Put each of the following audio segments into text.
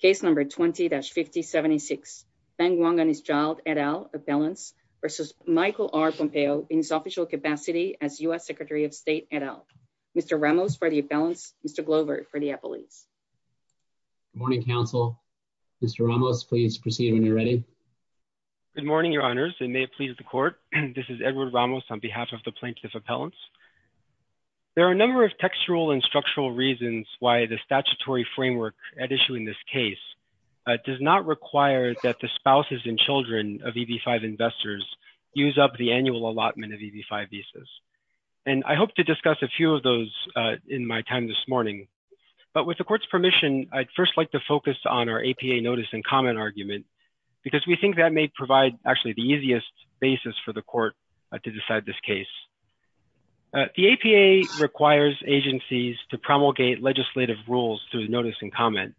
Case number 20-5076. Feng Wang and his child et al. Appellants versus Michael R. Pompeo in his official capacity as U.S. Secretary of State et al. Mr. Ramos for the appellants. Mr. Glover for the appellants. Good morning, counsel. Mr. Ramos, please proceed when you're ready. Good morning, your honors. It may please the court. This is Edward Ramos on behalf of the plaintiff appellants. There are a number of textual and structural reasons why the statutory framework at issuing this case does not require that the spouses and children of EB-5 investors use up the annual allotment of EB-5 visas. And I hope to discuss a few of those in my time this morning. But with the court's permission, I'd first like to focus on our APA notice and comment argument, because we think that may provide actually the easiest basis for the court to decide this case. The APA requires agencies to promulgate legislative rules through notice and comment.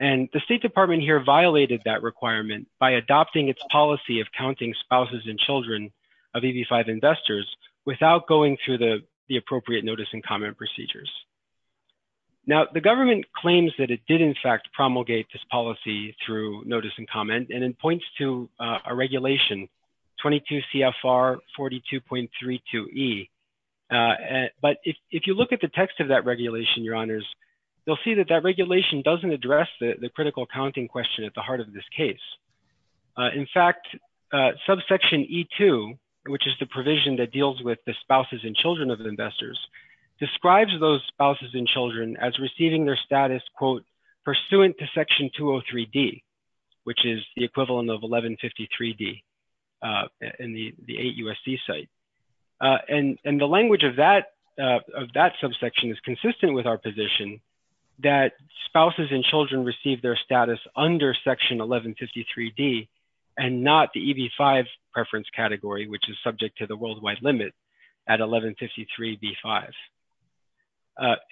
And the State Department here violated that requirement by adopting its policy of counting spouses and children of EB-5 investors without going through the appropriate notice and comment procedures. Now, the government claims that it did in fact promulgate this policy through notice and section 32E. But if you look at the text of that regulation, your honors, you'll see that that regulation doesn't address the critical counting question at the heart of this case. In fact, subsection E2, which is the provision that deals with the spouses and children of investors, describes those spouses and children as receiving their status, quote, pursuant to section 203D, which is the equivalent of 1153D in the AUSC site. And the language of that subsection is consistent with our position that spouses and children receive their status under section 1153D and not the EB-5 preference category, which is subject to the worldwide limit at 1153B-5.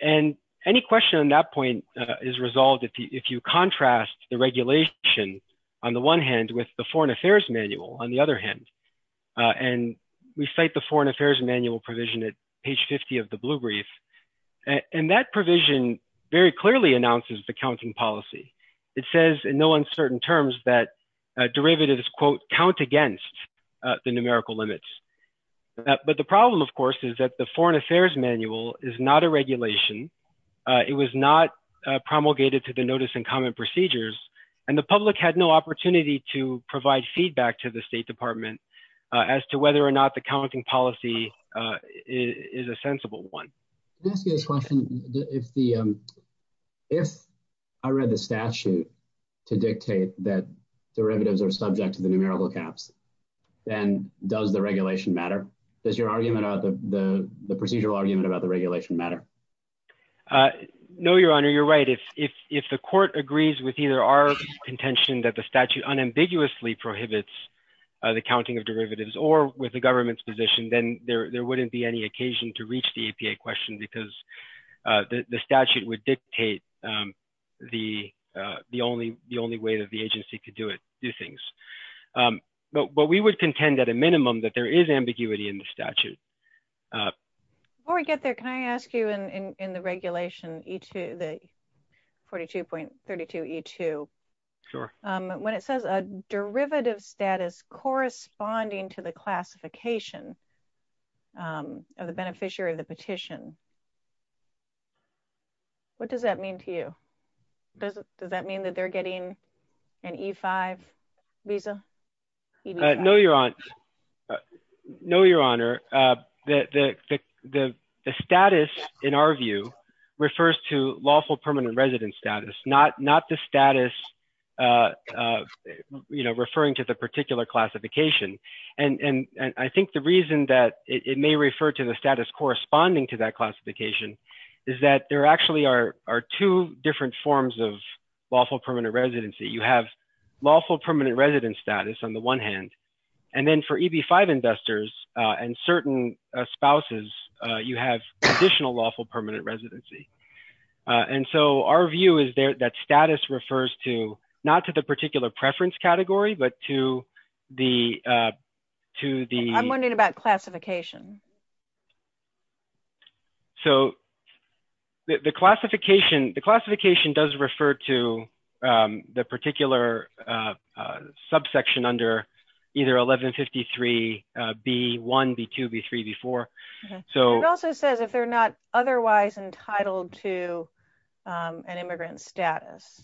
And any question on that point is resolved if you contrast the regulation on the one hand with the Foreign Affairs Manual on the other hand. And we cite the Foreign Affairs Manual provision at page 50 of the Blue Brief. And that provision very clearly announces the counting policy. It says in no uncertain terms that derivatives, quote, count against the numerical limits. But the problem, of course, is that the Foreign Affairs Manual is not a regulation. It was not promulgated to the notice and comment procedures. And the public had no opportunity to provide feedback to the State Department as to whether or not the counting policy is a sensible one. Can I ask you this question? If I read the statute to dictate that derivatives are subject to the numerical caps, then does the regulation matter? Does your argument about the procedural argument about the regulation matter? No, Your Honor, you're right. If the court agrees with either our contention that the statute unambiguously prohibits the counting of derivatives or with the government's position, then there wouldn't be any occasion to reach the APA question because the statute would dictate the only way that the agency could do things. But we would contend at a minimum that there is ambiguity in the statute. Before we get there, can I ask you in the regulation 42.32E2, when it says a derivative status corresponding to the classification of the beneficiary of the petition, what does that mean to you? Does that mean that they're getting an E-5 visa? No, Your Honor. The status, in our view, refers to lawful permanent residence status, not the status referring to the particular classification. And I think the reason that it may refer to the is that there actually are two different forms of lawful permanent residency. You have lawful permanent residence status on the one hand, and then for EB-5 investors and certain spouses, you have additional lawful permanent residency. And so our view is that status refers to, not to the particular preference category, but to the... I'm wondering about the classification. The classification does refer to the particular subsection under either 1153B1, B2, B3, B4. It also says if they're not otherwise entitled to an immigrant status.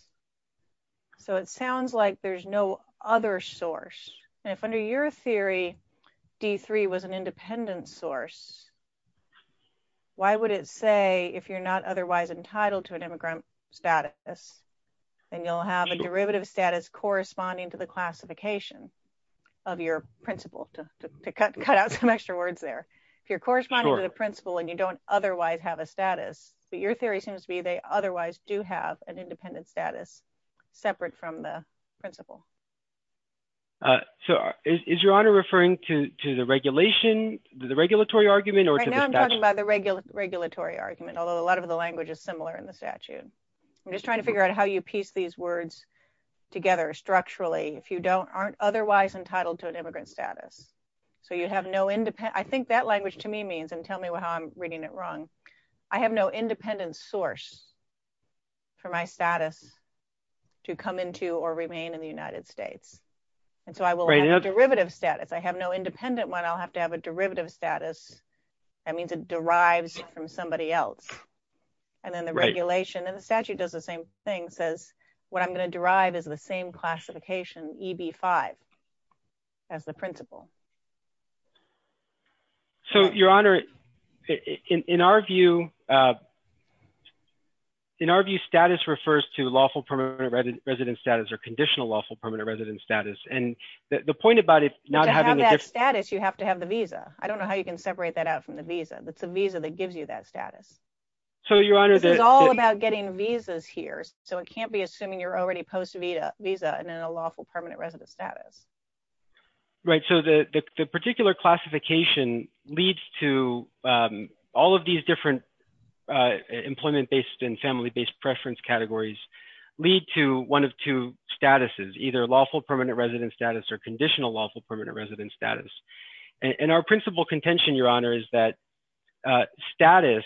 So it sounds like there's no other source. And if under your theory, D3 was an independent source, why would it say if you're not otherwise entitled to an immigrant status, then you'll have a derivative status corresponding to the classification of your principal, to cut out some extra words there. If you're corresponding to the principal and you don't otherwise have a status, but your theory seems to be they otherwise do have an independent status separate from the principal. So is your honor referring to the regulatory argument or to the statute? Right now I'm talking about the regulatory argument, although a lot of the language is similar in the statute. I'm just trying to figure out how you piece these words together structurally if you aren't otherwise entitled to an immigrant status. So you'd have no independent... I think that language to me means, and tell me how I'm reading it wrong. I have no independent source for my status to come into or remain in the United States. And so I will have a derivative status. I have no independent one. I'll have to have a derivative status. That means it derives from somebody else. And then the regulation and the statute does the same thing says what I'm going to derive is the same classification EB5 as the principal. So your honor, in our view, in our view, status refers to lawful permanent resident status or conditional lawful permanent resident status. And the point about it not having that status, you have to have the visa. I don't know how you can separate that out from the visa. That's a visa that gives you that status. So your honor, this is all about getting visas here. So it can't be assuming you're already post visa visa and then a lawful permanent resident status. Right. So the particular classification leads to all of these different employment-based and family-based preference categories lead to one of two statuses, either lawful permanent resident status or conditional lawful permanent resident status. And our principal contention, your honor, is that status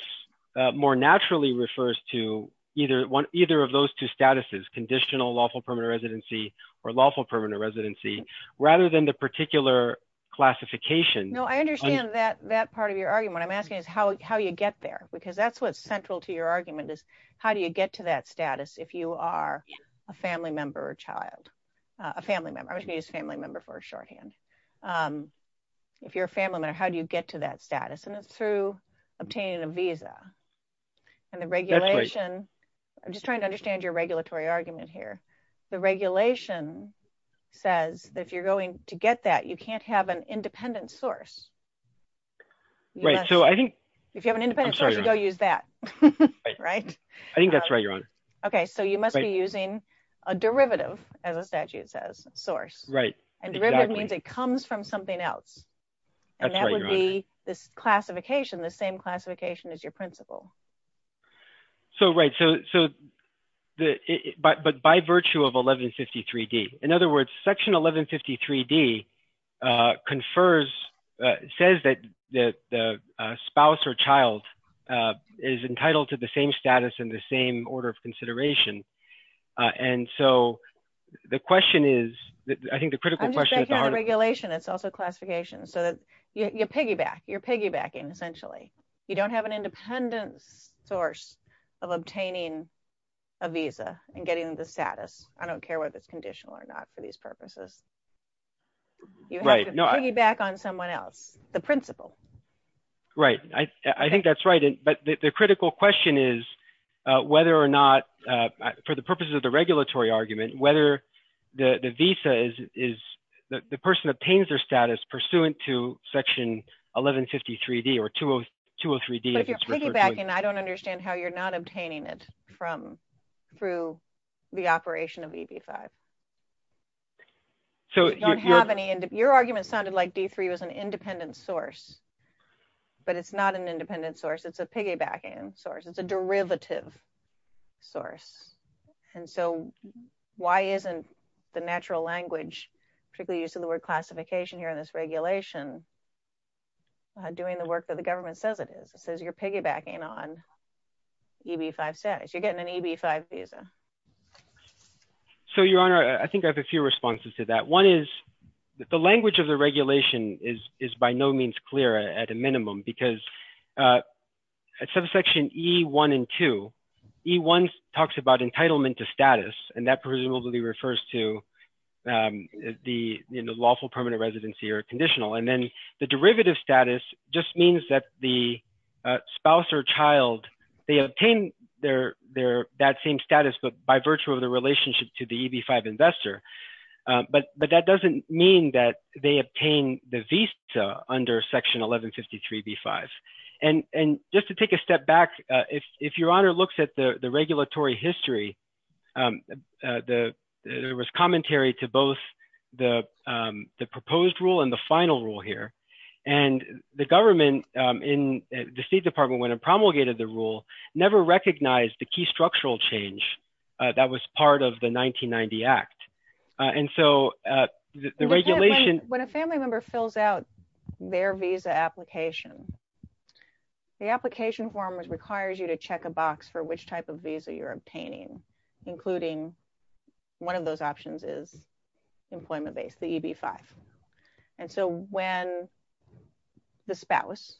more naturally refers to either of those two statuses, conditional lawful permanent residency or lawful permanent residency rather than the particular classification. No, I understand that part of your argument. I'm asking is how you get there because that's what's central to your argument is how do you get to that status if you are a family member or child, a family member, I was going to use family member for a shorthand. If you're a family member, how do you get to that status? And it's through obtaining a visa and the regulation. I'm just saying the regulation says that if you're going to get that, you can't have an independent source. Right. So I think if you have an independent source, you go use that. Right. I think that's right, your honor. Okay. So you must be using a derivative as a statute says source. Right. And derivative means it comes from something else. And that would be this classification, the same classification as your principal. So, right. So, but by virtue of 1153 D, in other words, section 1153 D confers, says that the spouse or child is entitled to the same status in the same order of consideration. And so the question is, I think the critical question. I'm just taking on the regulation, it's also classification so that you piggyback, you're piggybacking essentially. You don't have an independent source of obtaining a visa and getting the status. I don't care whether it's conditional or not for these purposes. You have to piggyback on someone else, the principal. Right. I think that's right. But the critical question is whether or not for the purposes of the regulatory argument, whether the visa is the person obtains their status pursuant to 1153 D or 203 D. But if you're piggybacking, I don't understand how you're not obtaining it through the operation of EB-5. So you don't have any, your argument sounded like D-3 was an independent source, but it's not an independent source. It's a piggybacking source. It's a derivative source. And so why isn't the natural language, particularly using the word classification here in this regulation, doing the work that the government says it is? It says you're piggybacking on EB-5 status. You're getting an EB-5 visa. So Your Honor, I think I have a few responses to that. One is that the language of the regulation is by no means clear at a minimum because at section E-1 and 2, E-1 talks about entitlement to status. And that presumably refers to the lawful permanent residency or conditional. And then the derivative status just means that the spouse or child, they obtain that same status, but by virtue of the relationship to the EB-5 investor. But that doesn't mean that they obtain the visa under section 1153 B-5. And just to take a step back, if Your Honor looks at the regulatory history, there was commentary to both the proposed rule and the final rule here. And the government in the State Department, when it promulgated the rule, never recognized the key structural change that was part of the 1990 Act. And so the regulation- When a family member fills out their visa application, the application form requires you to check a box for which type of visa you're obtaining. Including one of those options is employment-based, the EB-5. And so when the spouse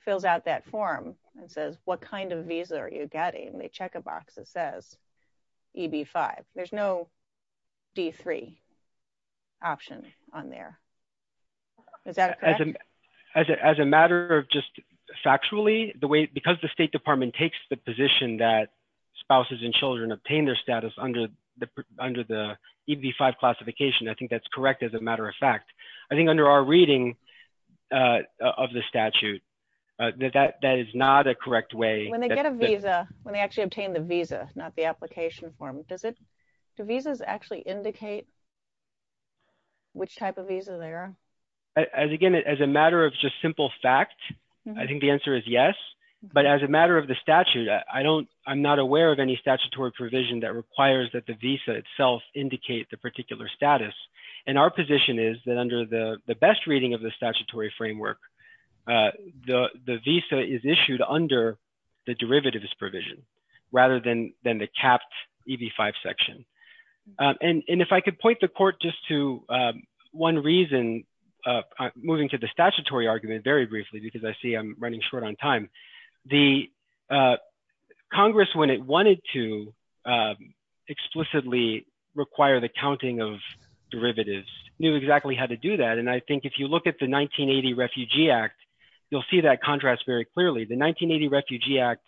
fills out that form and says, what kind of visa are you getting? They check a box that says EB-5. There's no D-3 option on there. Is that correct? As a matter of just factually, because the State Department takes the position that spouses and children obtain their status under the EB-5 classification, I think that's correct, as a matter of fact. I think under our reading of the statute, that is not a correct way- When they get a visa, when they actually obtain the visa, not the application form, do visas actually indicate which type of visa they are? Again, as a matter of just simple fact, I think the answer is yes. But as a matter of statute, I'm not aware of any statutory provision that requires that the visa itself indicate the particular status. And our position is that under the best reading of the statutory framework, the visa is issued under the derivatives provision rather than the capped EB-5 section. And if I could point the court just to one reason, moving to the statutory argument very briefly, because I see I'm running short on time. The Congress, when it wanted to explicitly require the counting of derivatives, knew exactly how to do that. And I think if you look at the 1980 Refugee Act, you'll see that contrast very clearly. The 1980 Refugee Act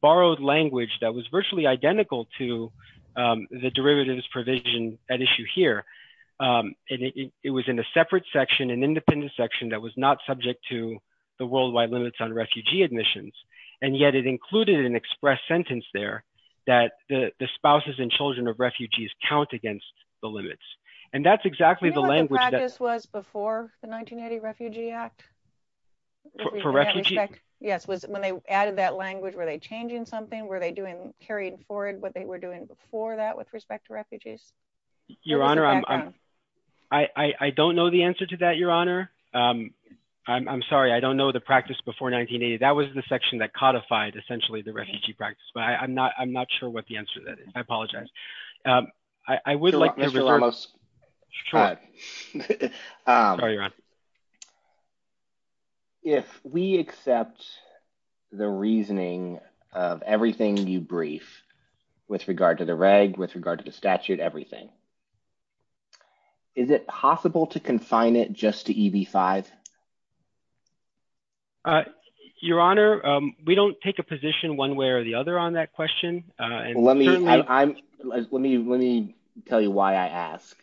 borrowed language that was virtually identical to the derivatives provision at issue here. And it was in a separate section, an independent section, that was not subject to the worldwide limits on refugee admissions. And yet it included an express sentence there that the spouses and children of refugees count against the limits. And that's exactly the language that- Do you know what the practice was before the 1980 Refugee Act? For refugees? Yes, when they added that language, were they changing something? Were they doing, carrying forward what they were doing before that with respect to refugees? Your Honor, I don't know the answer to that, Your Honor. I'm sorry, I don't know the practice before 1980. That was the section that codified, essentially, the refugee practice. But I'm not sure what the answer to that is. I apologize. I would like- Mr. Hermos. If we accept the reasoning of everything you brief with regard to the reg, with regard to everything, is it possible to confine it just to EB-5? Your Honor, we don't take a position one way or the other on that question. Let me tell you why I ask.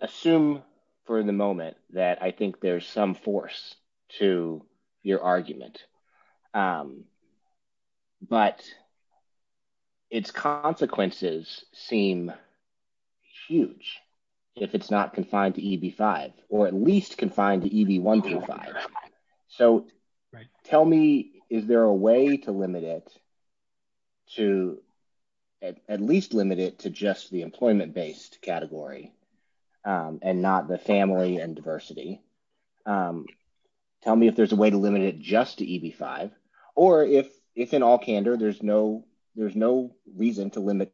Assume for the moment that I think there's some force to your argument. But its consequences seem huge if it's not confined to EB-5, or at least confined to EB-1-5. So tell me, is there a way to limit it, to at least limit it to just the employment-based category and not the family and diversity? Tell me if there's a way to limit it just to EB-5. Or if, in all candor, there's no reason to limit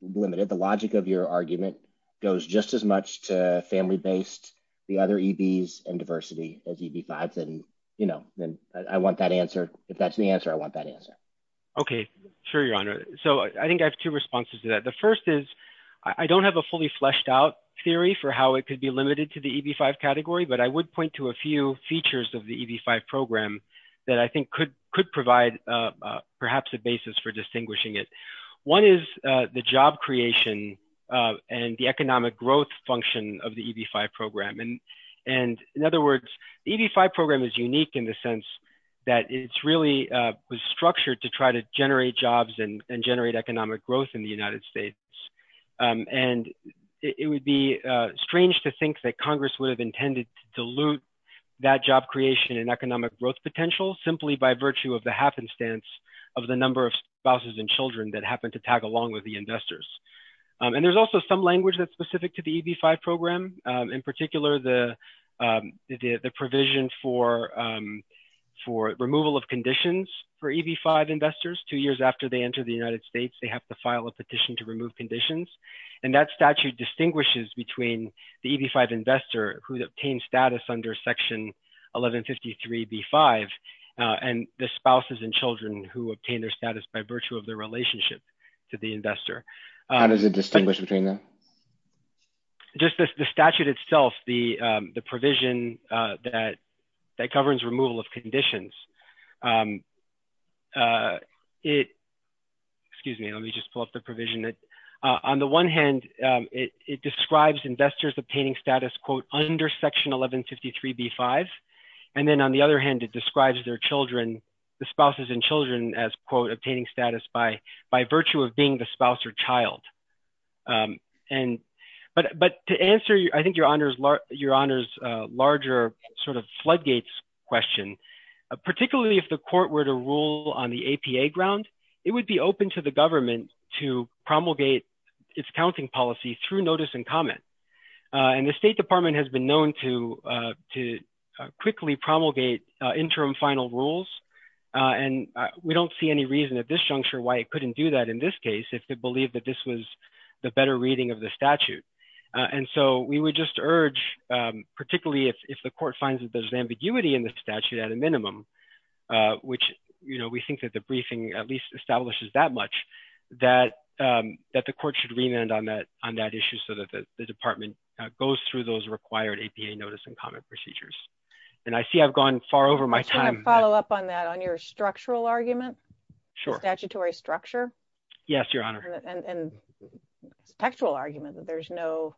it, the logic of your argument goes just as much to family-based, the other EBs, and diversity as EB-5, then I want that answer. If that's the answer, I want that answer. Mr. Hermos. Okay. Sure, Your Honor. So I think I have two responses to that. The first is, I don't have a fully fleshed-out theory for how it could be limited to the EB-5 category, but I would point to a few features of the EB-5 program that I think could provide perhaps a basis for distinguishing it. One is the job creation and the economic growth function of the EB-5 program. And in other words, the EB-5 program is unique in the sense that it really was structured to try to generate jobs and generate economic growth in the United States. And it would be strange to think that Congress would have intended to dilute that job creation and economic growth potential simply by virtue of the happenstance of the number of spouses and children that happen to tag along with the investors. And there's also some language that's specific to the EB-5 program, in particular, the provision for removal of conditions for EB-5 investors two years after they enter the United States, they have to file a petition to remove conditions. And that statute distinguishes between the EB-5 investor who obtained status under section 1153B-5 and the spouses and children who obtained their status by virtue of their relationship to the investor. How does it distinguish between them? Just the statute itself, the provision that governs removal of conditions, excuse me, let me just pull up the provision. On the one hand, it describes investors obtaining status, quote, under section 1153B-5. And then on the other hand, it describes their children, the spouses and children as, quote, obtaining status by virtue of being the spouse or child. But to answer, I think, Your Honor's larger sort of floodgates question, particularly if the court were to rule on the APA ground, it would be open to the government to promulgate its counting policy through notice and comment. And the State Department has been known to quickly promulgate interim final rules. And we don't see any reason at this juncture why it couldn't do that in this that this was the better reading of the statute. And so we would just urge, particularly if the court finds that there's ambiguity in the statute at a minimum, which, you know, we think that the briefing at least establishes that much, that the court should remand on that issue so that the department goes through those required APA notice and comment procedures. And I see I've gone far over my time. I just want to follow up on that, on your structural argument, statutory structure. Yes, Your Honor. And textual argument that there's no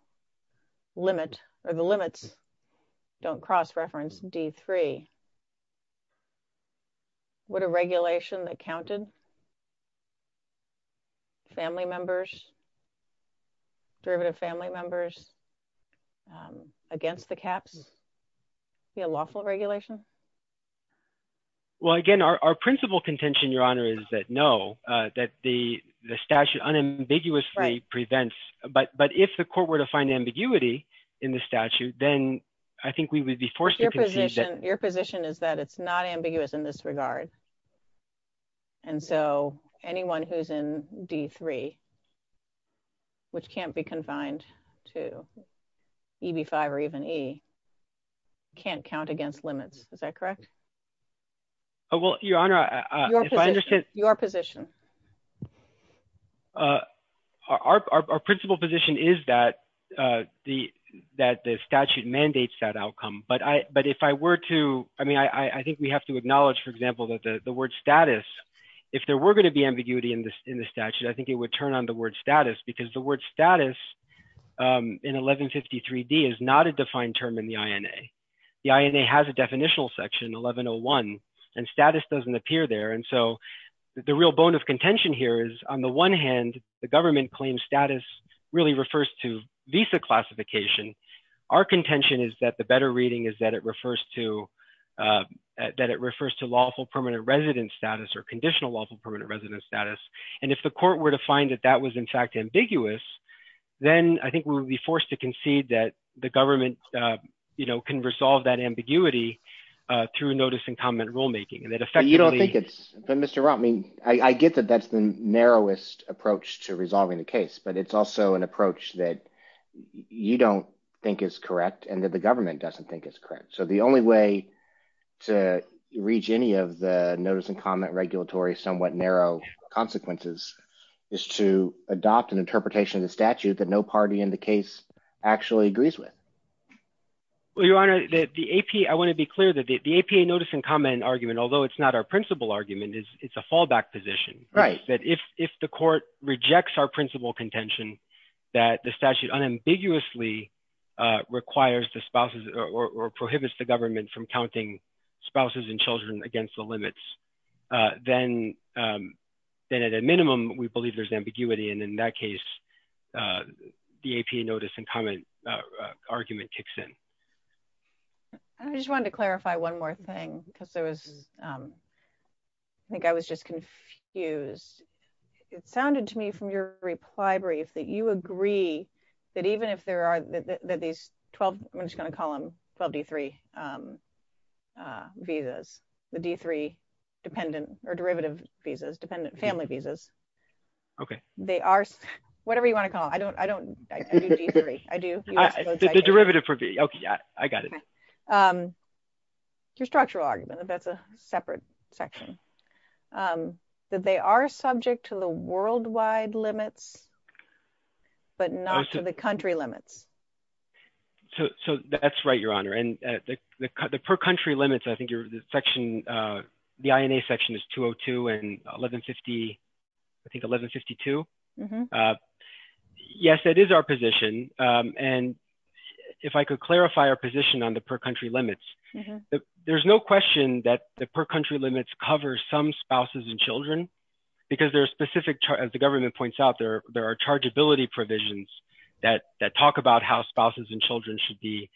limit or the limits don't cross-reference D3. Would a regulation that counted family members, derivative family members against the caps be a lawful regulation? Well, again, our principal contention, Your Honor, is that no, that the statute unambiguously prevents. But if the court were to find ambiguity in the statute, then I think we would be forced to concede that. Your position is that it's not ambiguous in this regard. And so anyone who's in D3, which can't be confined to EB5 or even E, can't count against limits. Is that correct? Well, Your Honor, if I understand. Your position. Our principal position is that the statute mandates that outcome. But if I were to, I mean, I think we have to acknowledge, for example, that the word status, if there were going to be ambiguity in the statute, I think it would turn on the word status, because the word status in 1153D is not a defined term in the INA. The INA has a definitional section, 1101, and status doesn't appear there. And so the real bone of contention here is, on the one hand, the government claims status really refers to visa classification. Our contention is that the better reading is that it refers to lawful permanent residence status or conditional lawful permanent residence status. And if the court were to find that that was, in fact, ambiguous, then I think we would be forced to concede that the government can resolve that ambiguity through notice and comment rulemaking. But you don't think it's, but Mr. Rao, I mean, I get that that's the narrowest approach to resolving the case, but it's also an approach that you don't think is correct and that the government doesn't think is correct. So the only way to reach any of the notice and comment regulatory somewhat narrow consequences is to adopt an interpretation of the statute that no party in the case actually agrees with. Well, Your Honor, the AP, I want to be clear that the APA notice and comment argument, although it's not our principal argument, it's a fallback position. Right. That if the court rejects our principal contention, that the statute unambiguously requires the spouses or prohibits the government from counting spouses and children against the limits, then at a minimum, we believe there's ambiguity. And in that case, the APA notice and comment argument kicks in. I just wanted to clarify one more thing because I think I was just confused. It sounded to me from your reply brief that you agree that even if there are these 12, I'm just going to call them 12 D3 visas, the D3 dependent or derivative visas, dependent family visas. Okay. They are, whatever you want to call it. I don't, I do D3. The derivative for B. Okay. I got it. Your structural argument, that's a separate section, that they are subject to the worldwide limits, but not to the country limits. So that's right, Your Honor. And the per country limits, I think you're the section, the INA section is 202 and 1150, I think 1152. Yes, that is our position. And if I could clarify our position on the per country limits, there's no question that the per country limits cover some spouses and children because there are specific, as the there are chargeability provisions that talk about how spouses and children should be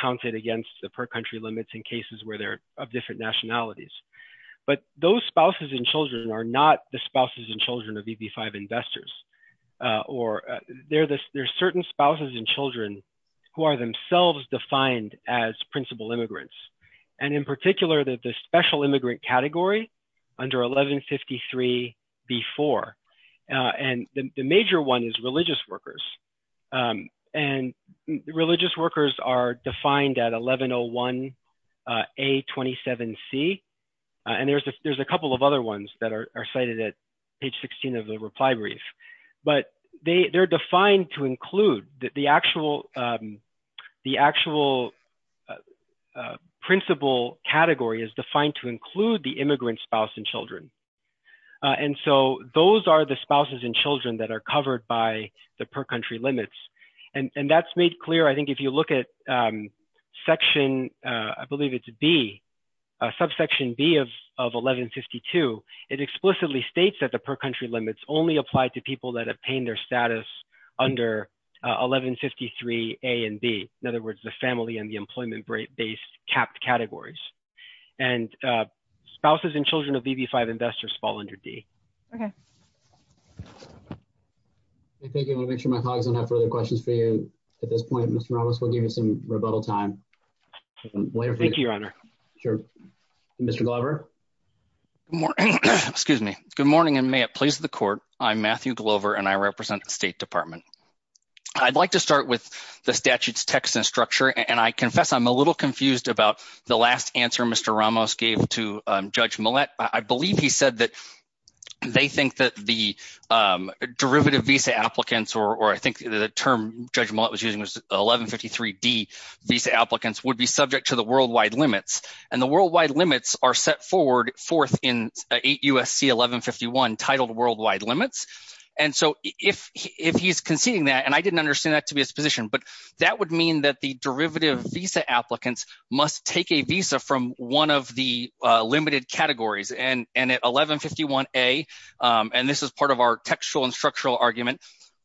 counted against the per country limits in cases where they're of different nationalities. But those spouses and children are not the spouses and children of EB-5 investors, or there are certain spouses and children who are themselves defined as principal immigrants. And in particular, that the special immigrant category under 1153-B-4. And the major one is religious workers. And religious workers are defined at 1101-A-27-C. And there's a couple of other ones that are cited at page 16 of the reply brief. But they're defined to include the actual principal category is defined to include the immigrant spouse and children. And so those are the spouses and children that are covered by the per country limits. And that's made clear. I think if you look at section, I believe it's B, subsection B of 1152, it explicitly states that the per country limits only apply to people that obtain their status under 1153-A-B. In other words, the family and the employment based capped categories. And spouses and children of EB-5 investors fall under D. Okay. Thank you. I'll make sure my colleagues don't have further questions for you. At this point, Mr. Ramos, we'll give you some rebuttal time. Thank you, Your Honor. Sure. Mr. Glover? Excuse me. Good morning, and may it please the court. I'm Matthew Glover, and I represent the State Department. I'd like to start with the statute's text and structure. And I confess I'm a little confused about the last answer Mr. Ramos gave to Judge Millett. I believe he said that they think that the derivative visa applicants, or I think the term Judge Millett was using was 1153-D visa applicants would be subject to the worldwide limits. And the worldwide limits are set forth in 8 U.S.C. 1151 titled worldwide limits. And so if he's conceding that, and I didn't understand that to be his position, but that would mean that the derivative visa applicants must take a visa from one of the limited categories. And at 1151-A, and this is part of our textual and structural argument,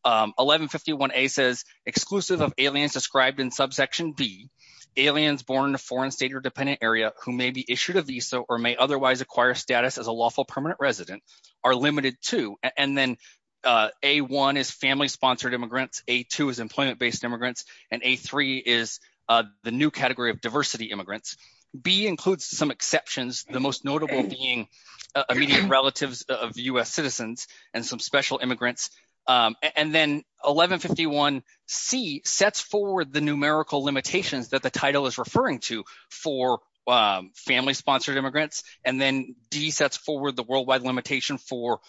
1151-A says exclusive of aliens described in subsection B, aliens born in a foreign state or dependent area who may be issued a visa or may otherwise acquire status as a lawful permanent resident are limited to. And then A-1 is family sponsored immigrants, A-2 is employment based immigrants, and A-3 is the new category of diversity immigrants. B includes some exceptions, the most notable being immediate relatives of U.S. citizens and some special immigrants. And then 1151-C sets forward the numerical limitations that the title is referring to for family sponsored immigrants. And then D sets forward the worldwide limitation for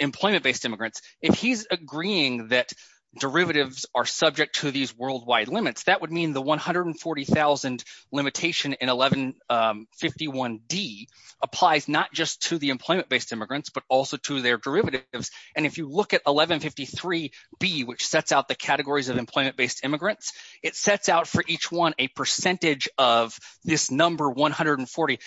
employment based immigrants. If he's agreeing that derivatives are subject to these worldwide limits, that would mean the 140,000 limitation in 1151-D applies not just to the employment based immigrants, but also to their derivatives. And if you look at 1153-B, which sets out the categories of employment based immigrants, it sets out for each one a percentage of this number 140.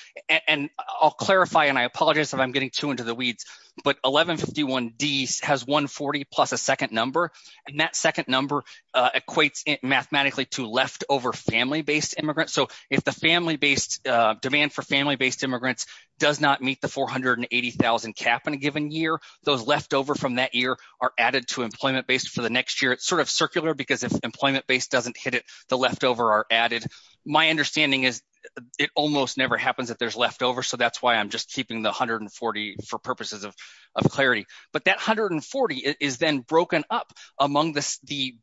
And I'll clarify, and I apologize if I'm getting too into the weeds, but 1151-D has 140 plus a second number, and that second number equates mathematically to leftover family based immigrants. So if the family based demand for family based immigrants does not meet the 480,000 cap in a given year, those leftover from that year are added to next year. It's sort of circular because if employment based doesn't hit it, the leftover are added. My understanding is it almost never happens that there's leftover. So that's why I'm just keeping the 140 for purposes of clarity. But that 140 is then broken up among the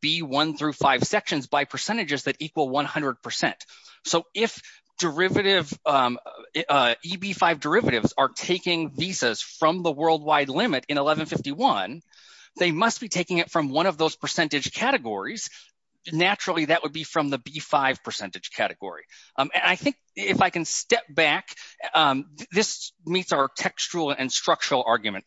B1 through 5 sections by percentages that equal 100%. So if derivative EB5 derivatives are taking visas from the worldwide limit in 1151, they must be taking it from one of those percentage categories. Naturally, that would be from the B5 percentage category. And I think if I can step back, this meets our textual and structural argument.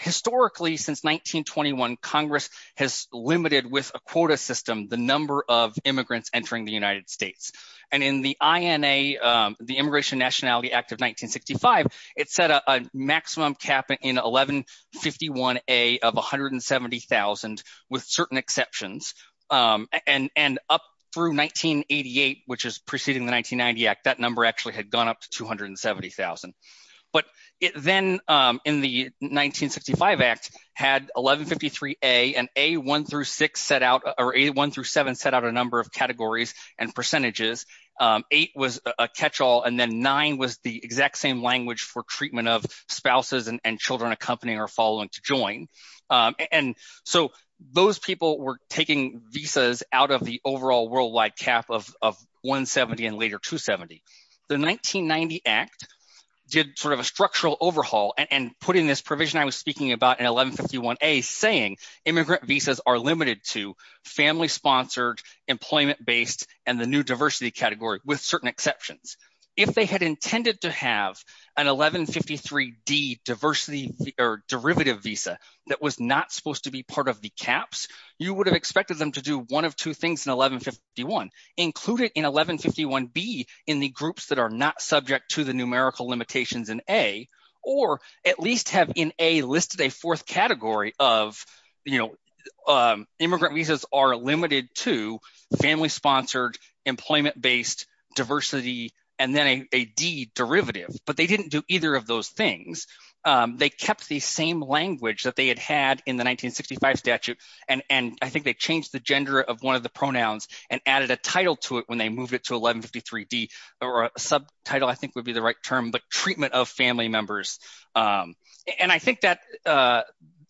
Historically, since 1921, Congress has limited with a quota system, the number of immigrants entering the United States. And in the INA, the Immigration Nationality Act of 1965, it set a maximum cap in 1151A of 170,000, with certain exceptions. And up through 1988, which is preceding the 1990 Act, that number actually had gone up to 270,000. But it then in the 1965 Act had 1153A and A1 through 6 set out 1 through 7 set out a number of categories and percentages. 8 was a catch-all. And then 9 was the exact same language for treatment of spouses and children accompanying or following to join. And so those people were taking visas out of the overall worldwide cap of 170 and later 270. The 1990 Act did sort of a structural overhaul and put in this provision I was speaking about in 1151A saying immigrant visas are limited to family-sponsored, employment-based, and the new diversity category with certain exceptions. If they had intended to have an 1153D diversity or derivative visa that was not supposed to be part of the caps, you would have expected them to do one of two things in 1151. Include it in 1151B in the groups that are not subject to the numerical limitations in A. Or at least have in A listed a fourth category of immigrant visas are limited to family-sponsored, employment-based, diversity, and then a D derivative. But they didn't do either of those things. They kept the same language that they had had in the 1965 statute. And I think they changed the gender of one of pronouns and added a title to it when they moved it to 1153D or a subtitle I think would be the right term but treatment of family members. And I think that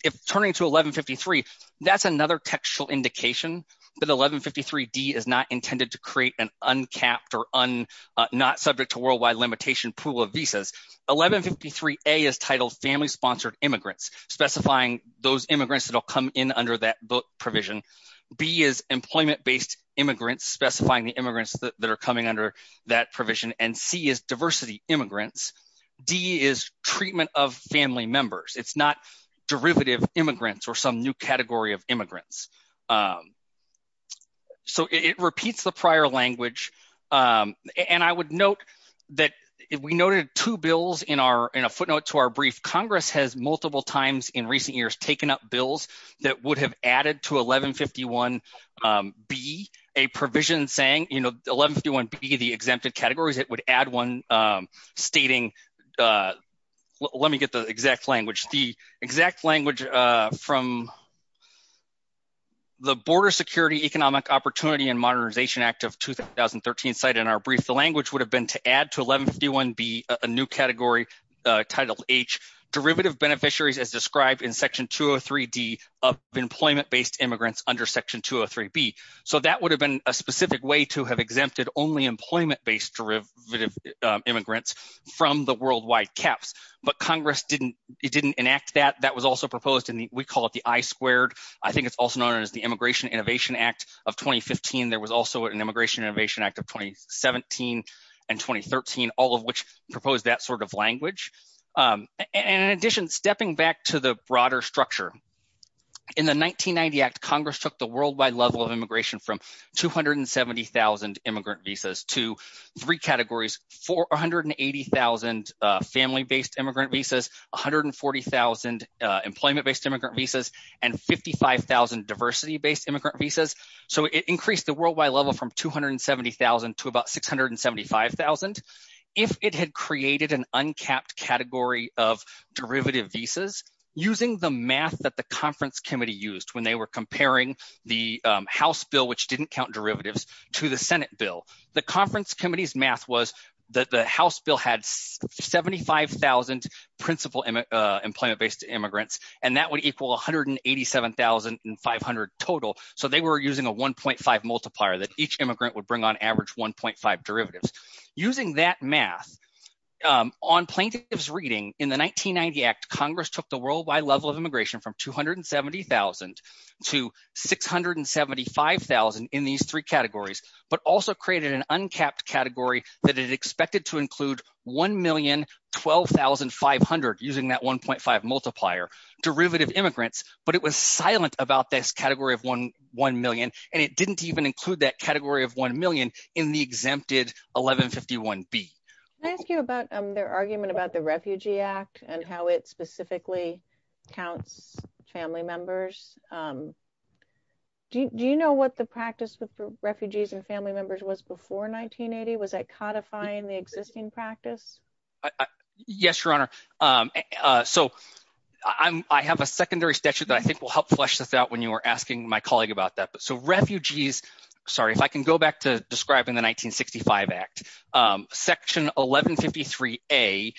if turning to 1153 that's another textual indication that 1153D is not intended to create an uncapped or not subject to worldwide limitation pool of visas. 1153A is titled family-sponsored immigrants specifying those immigrants specifying the immigrants that are coming under that provision. And C is diversity immigrants. D is treatment of family members. It's not derivative immigrants or some new category of immigrants. So it repeats the prior language. And I would note that we noted two bills in our in a footnote to our brief. Congress has multiple times in recent years taken up bills that would have added to 1151B a provision saying, you know, 1151B the exempted categories it would add one stating, let me get the exact language, the exact language from the Border Security Economic Opportunity and Modernization Act of 2013 cited in our brief. The language would have been to add to 1151B a new category titled H derivative beneficiaries as described in section 203D of employment-based immigrants under section 203B. So that would have been a specific way to have exempted only employment-based derivative immigrants from the worldwide caps. But Congress didn't, it didn't enact that. That was also proposed and we call it the I squared. I think it's also known as the Immigration Innovation Act of 2015. There was also an Immigration Innovation Act of 2017 and 2013, all of which proposed that sort of language. And in addition, stepping back to the broader structure, in the 1990 Act, Congress took the worldwide level of immigration from 270,000 immigrant visas to three categories, 480,000 family-based immigrant visas, 140,000 employment-based immigrant visas, and 55,000 diversity-based immigrant visas. So it increased the worldwide level from 270,000 to about 675,000. If it had created an uncapped category of derivative visas, using the math that the conference committee used when they were comparing the House bill, which didn't count derivatives, to the Senate bill, the conference committee's math was that the House bill had 75,000 principal employment-based immigrants, and that would equal 187,500 total. So they were using a 1.5 multiplier that each immigrant would bring on average 1.5 derivatives. Using that math, on plaintiff's reading in the 1990 Act, Congress took the worldwide level of immigration from 270,000 to 675,000 in these three categories, but also created an uncapped category that it expected to include 1,012,500, using that 1.5 multiplier, derivative immigrants. But it was silent about this category of 1,000,000, and it didn't even include that category of 1,000,000 in the exempted 1151B. Can I ask you about their argument about the Refugee Act and how it specifically counts family members? Do you know what the practice with refugees and family members was before 1980? Was that codifying the existing practice? Yes, Your Honor. So I have a secondary statute that I think will help flesh this out when you were asking my colleague about that. So refugees, sorry, if I can go back to describing the 1965 Act, Section 1153A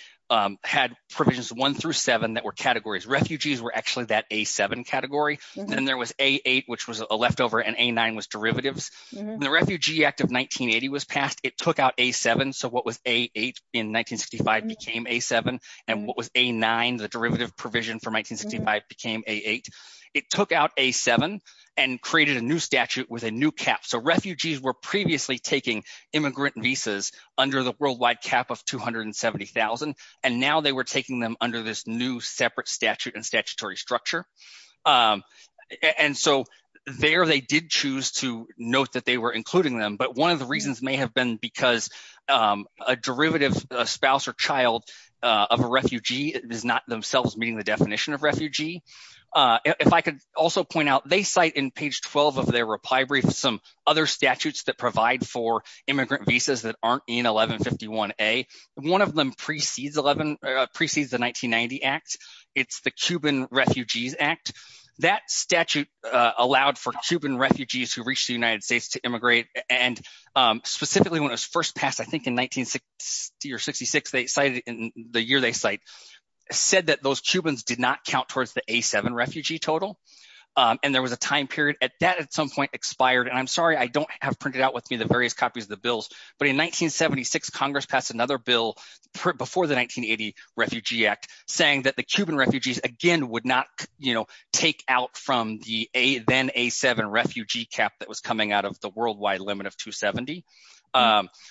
had provisions one through seven that were categories. Refugees were actually that A7 category. Then there was A8, which was a leftover, and A9 was derivatives. The Refugee Act of 1980 was passed. It took out A7, so what was A8 in 1965 became A7, and what was A9, the derivative provision from 1965, became A8. It took out A7 and created a new statute with a new cap. So refugees were previously taking immigrant visas under the worldwide cap of 270,000, and now they were taking them under this new separate statute and statutory structure. And so there they did choose to note that they were including them, but one of the reasons may have been because a derivative, a spouse or child of a refugee is not themselves meeting the definition of refugee. If I could also point out, they cite in page 12 of their reply brief some other statutes that provide for immigrant visas that aren't in 1151A. One of them precedes the 1990 Act. It's the Cuban Refugees Act. That statute allowed for Cuban refugees who reached the United States to in the year they cite, said that those Cubans did not count towards the A7 refugee total, and there was a time period at that at some point expired. And I'm sorry, I don't have printed out with me the various copies of the bills, but in 1976, Congress passed another bill before the 1980 Refugee Act saying that the Cuban refugees again would not take out from the then A7 refugee cap that was coming out of the worldwide limit of 270.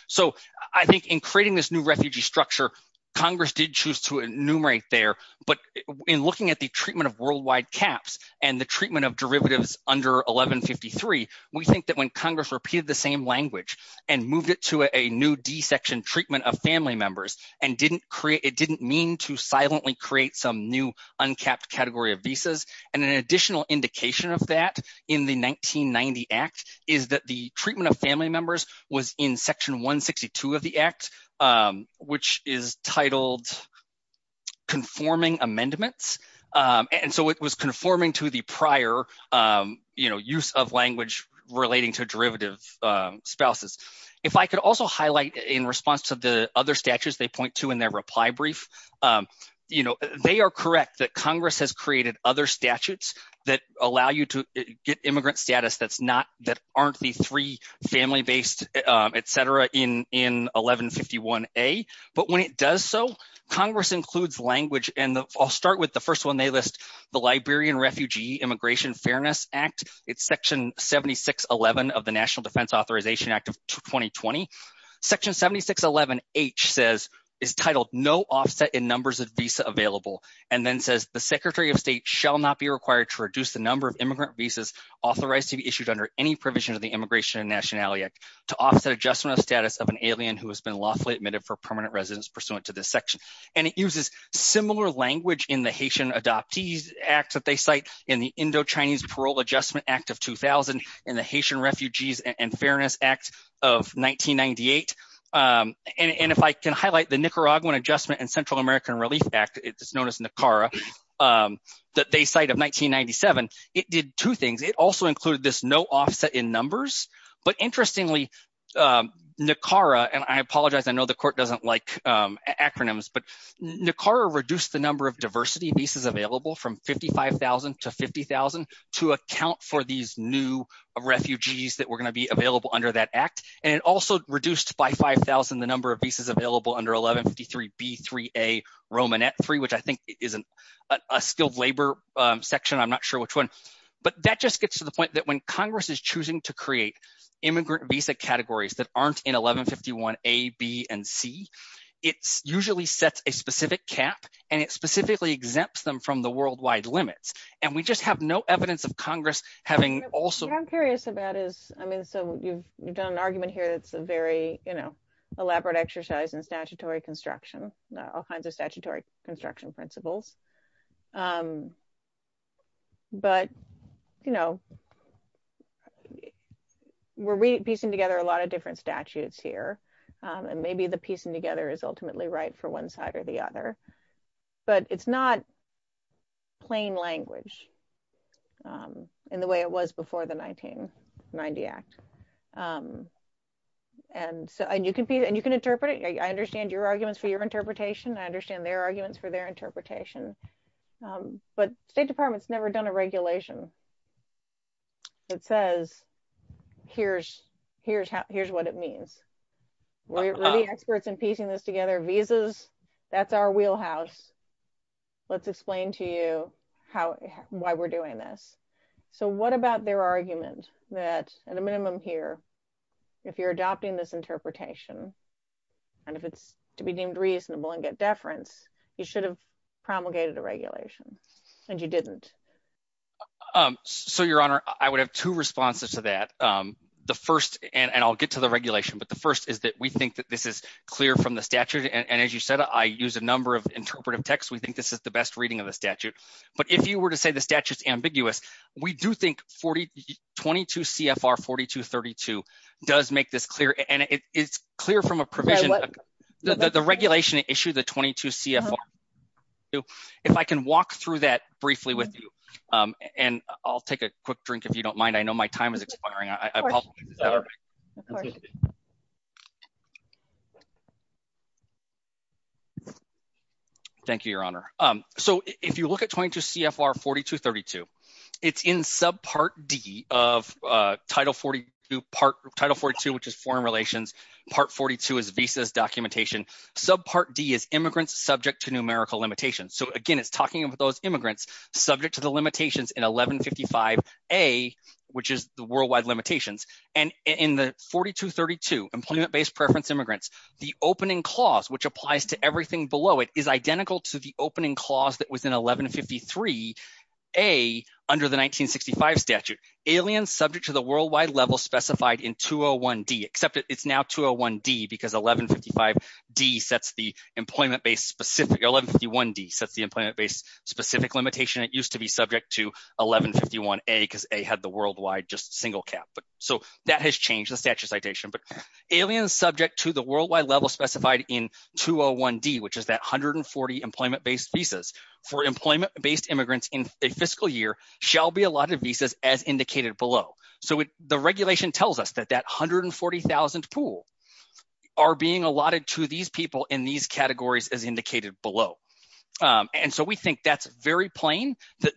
So I think in creating this new refugee structure, Congress did choose to enumerate there. But in looking at the treatment of worldwide caps and the treatment of derivatives under 1153, we think that when Congress repeated the same language and moved it to a new D section treatment of family members, it didn't mean to silently create some new uncapped category of visas. And an additional indication of that in the 1990 Act is that the treatment of family members was in section 162 of the Act, which is titled conforming amendments. And so it was conforming to the prior, you know, use of language relating to derivative spouses. If I could also highlight in response to the other statutes they point to in their reply brief, you know, they are correct that Congress has created other statutes that allow you to get immigrant status that's not, that aren't the three family based, etc. in 1151A. But when it does so, Congress includes language and I'll start with the first one they list, the Liberian Refugee Immigration Fairness Act. It's section 7611 of the National Defense Authorization Act of 2020. Section 7611H says, is titled no offset in numbers of visa available. And then says the Secretary of State shall not be required to reduce the number of immigrant visas authorized to be issued under any provision of the Immigration and Nationality Act to offset adjustment of status of an alien who has been lawfully admitted for permanent residence pursuant to this section. And it uses similar language in the Haitian Adoptees Act that they cite in the Indo-Chinese Parole Adjustment Act of 2000, in the Haitian Refugees and Fairness Act of 1998. And if I can highlight the Nicaraguan Adjustment and Central American Relief Act, it's known as NICARA, that they cite of 1997. It did two things. It also included this no offset in numbers. But interestingly, NICARA, and I apologize, I know the court doesn't like acronyms, but NICARA reduced the number of diversity visas available from 55,000 to 50,000 to account for these new refugees that were going to be available under that act. And it also reduced by 5,000, the number of visas available under 1153 B3A Romanet III, which I think is a skilled labor section. I'm not sure which one. But that just gets to the point that when Congress is choosing to create immigrant visa categories that aren't in 1151 A, B, and C, it usually sets a of Congress having also- What I'm curious about is, I mean, so you've done an argument here that's a very, you know, elaborate exercise in statutory construction, all kinds of statutory construction principles. But, you know, we're piecing together a lot of different statutes here. And maybe the piecing together is ultimately right for one side or the other. But it's not plain language in the way it was before the 1990 Act. And so, and you can interpret it. I understand your arguments for your interpretation. I understand their arguments for their interpretation. But State Department's never done a regulation that says, here's what it means. We're the experts in piecing this together. Visas, that's our wheelhouse. Let's explain to you how, why we're doing this. So what about their argument that, at a minimum here, if you're adopting this interpretation, and if it's to be deemed reasonable and get deference, you should have promulgated a regulation, and you didn't? So, Your Honor, I would have two responses to that. The first, and I'll get to the regulation, but the first is that we think that this is clear from the statute. And as you said, I use a number of interpretive texts. We think this is the best reading of the statute. But if you were to say the statute's ambiguous, we do think 42 CFR 4232 does make this clear. And it's clear from a provision. The regulation issued the 22 CFR. If I can walk through that briefly with you, and I'll take a quick drink if you don't mind. I know my time is expiring. Thank you, Your Honor. So, if you look at 22 CFR 4232, it's in subpart D of Title 42, which is foreign relations. Part 42 is visas documentation. Subpart D is immigrants subject to numerical limitations. So again, it's talking about those immigrants subject to the limitations in 1155A, which is the worldwide limitations. And in the 4232, employment-based preference immigrants, the opening clause, which applies to everything below it, is identical to the opening clause that was in 1153A under the 1965 statute. Aliens subject to the worldwide level specified in 201D, except it's now 201D because 1155D sets the employment-based specific, 1151D sets the employment-based specific limitation. It used to be subject to 1151A because A had the worldwide just single cap. So, that has changed the statute citation. But aliens subject to the worldwide level specified in 201D, which is that 140 employment-based visas for employment-based immigrants in a fiscal year shall be allotted visas as indicated below. So, the regulation tells us that that 140,000 pool are being allotted to these people in these categories as indicated below. And so, we think that's very plain that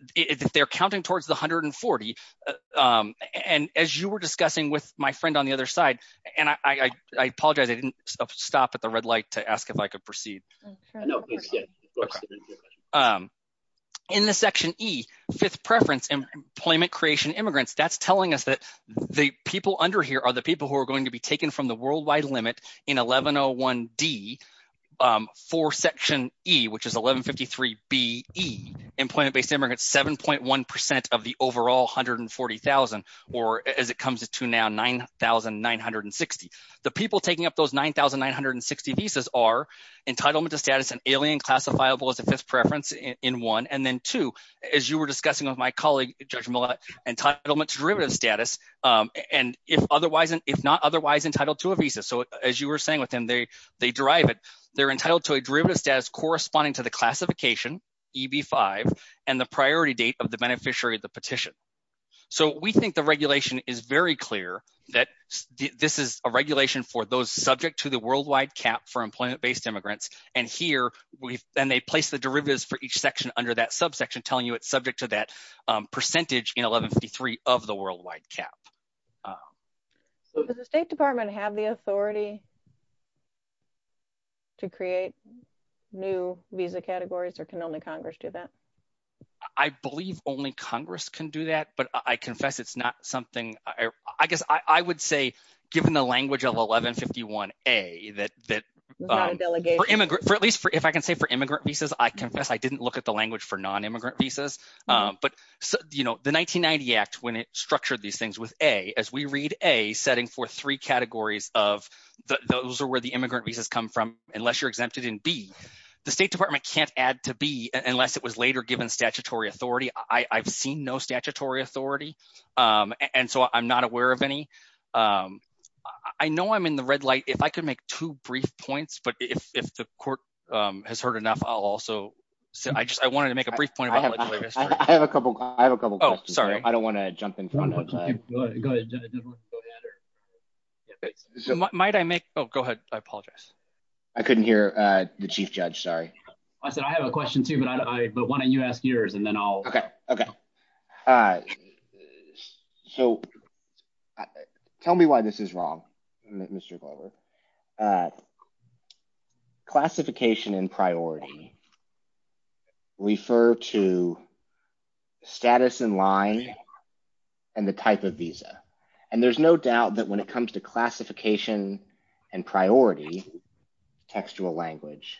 they're counting towards the 140. And as you were discussing with my friend on the other side, and I apologize, I didn't stop at the red light to ask if I could proceed. In the section E, fifth preference employment creation immigrants, that's telling us that the people under here are the people who are going to be taken from the worldwide limit in 1101D for section E, which is 1153BE, employment-based immigrants, 7.1% of the overall 140,000, or as it comes to now, 9,960. The people taking up those 9,960 visas are entitlement to status and alien classifiable as a fifth preference in one. And then two, as you were discussing with my colleague, Judge Millett, entitlement to derivative status. And if otherwise, entitled to a visa. So, as you were saying with them, they derive it. They're entitled to a derivative status corresponding to the classification, EB5, and the priority date of the beneficiary of the petition. So, we think the regulation is very clear that this is a regulation for those subject to the worldwide cap for employment-based immigrants. And here, and they place the derivatives for each section under that subsection, telling you it's subject to that Does the State Department have the authority to create new visa categories, or can only Congress do that? I believe only Congress can do that, but I confess it's not something, I guess, I would say, given the language of 1151A, that for at least, if I can say for immigrant visas, I confess, I didn't look at the language for non-immigrant visas. But, you know, the 1990 Act, when it setting for three categories of, those are where the immigrant visas come from, unless you're exempted in B. The State Department can't add to B, unless it was later given statutory authority. I've seen no statutory authority, and so I'm not aware of any. I know I'm in the red light. If I could make two brief points, but if the court has heard enough, I'll also say, I just, I wanted to make a brief point. I have a couple, I have a couple. Oh, go ahead. Might I make, oh, go ahead. I apologize. I couldn't hear the chief judge. Sorry. I said, I have a question too, but I, but why don't you ask yours and then I'll. Okay. Okay. So tell me why this is wrong, Mr. Glover. Classification and priority refer to status in line and the type of visa. And there's no doubt that when it comes to classification and priority, textual language,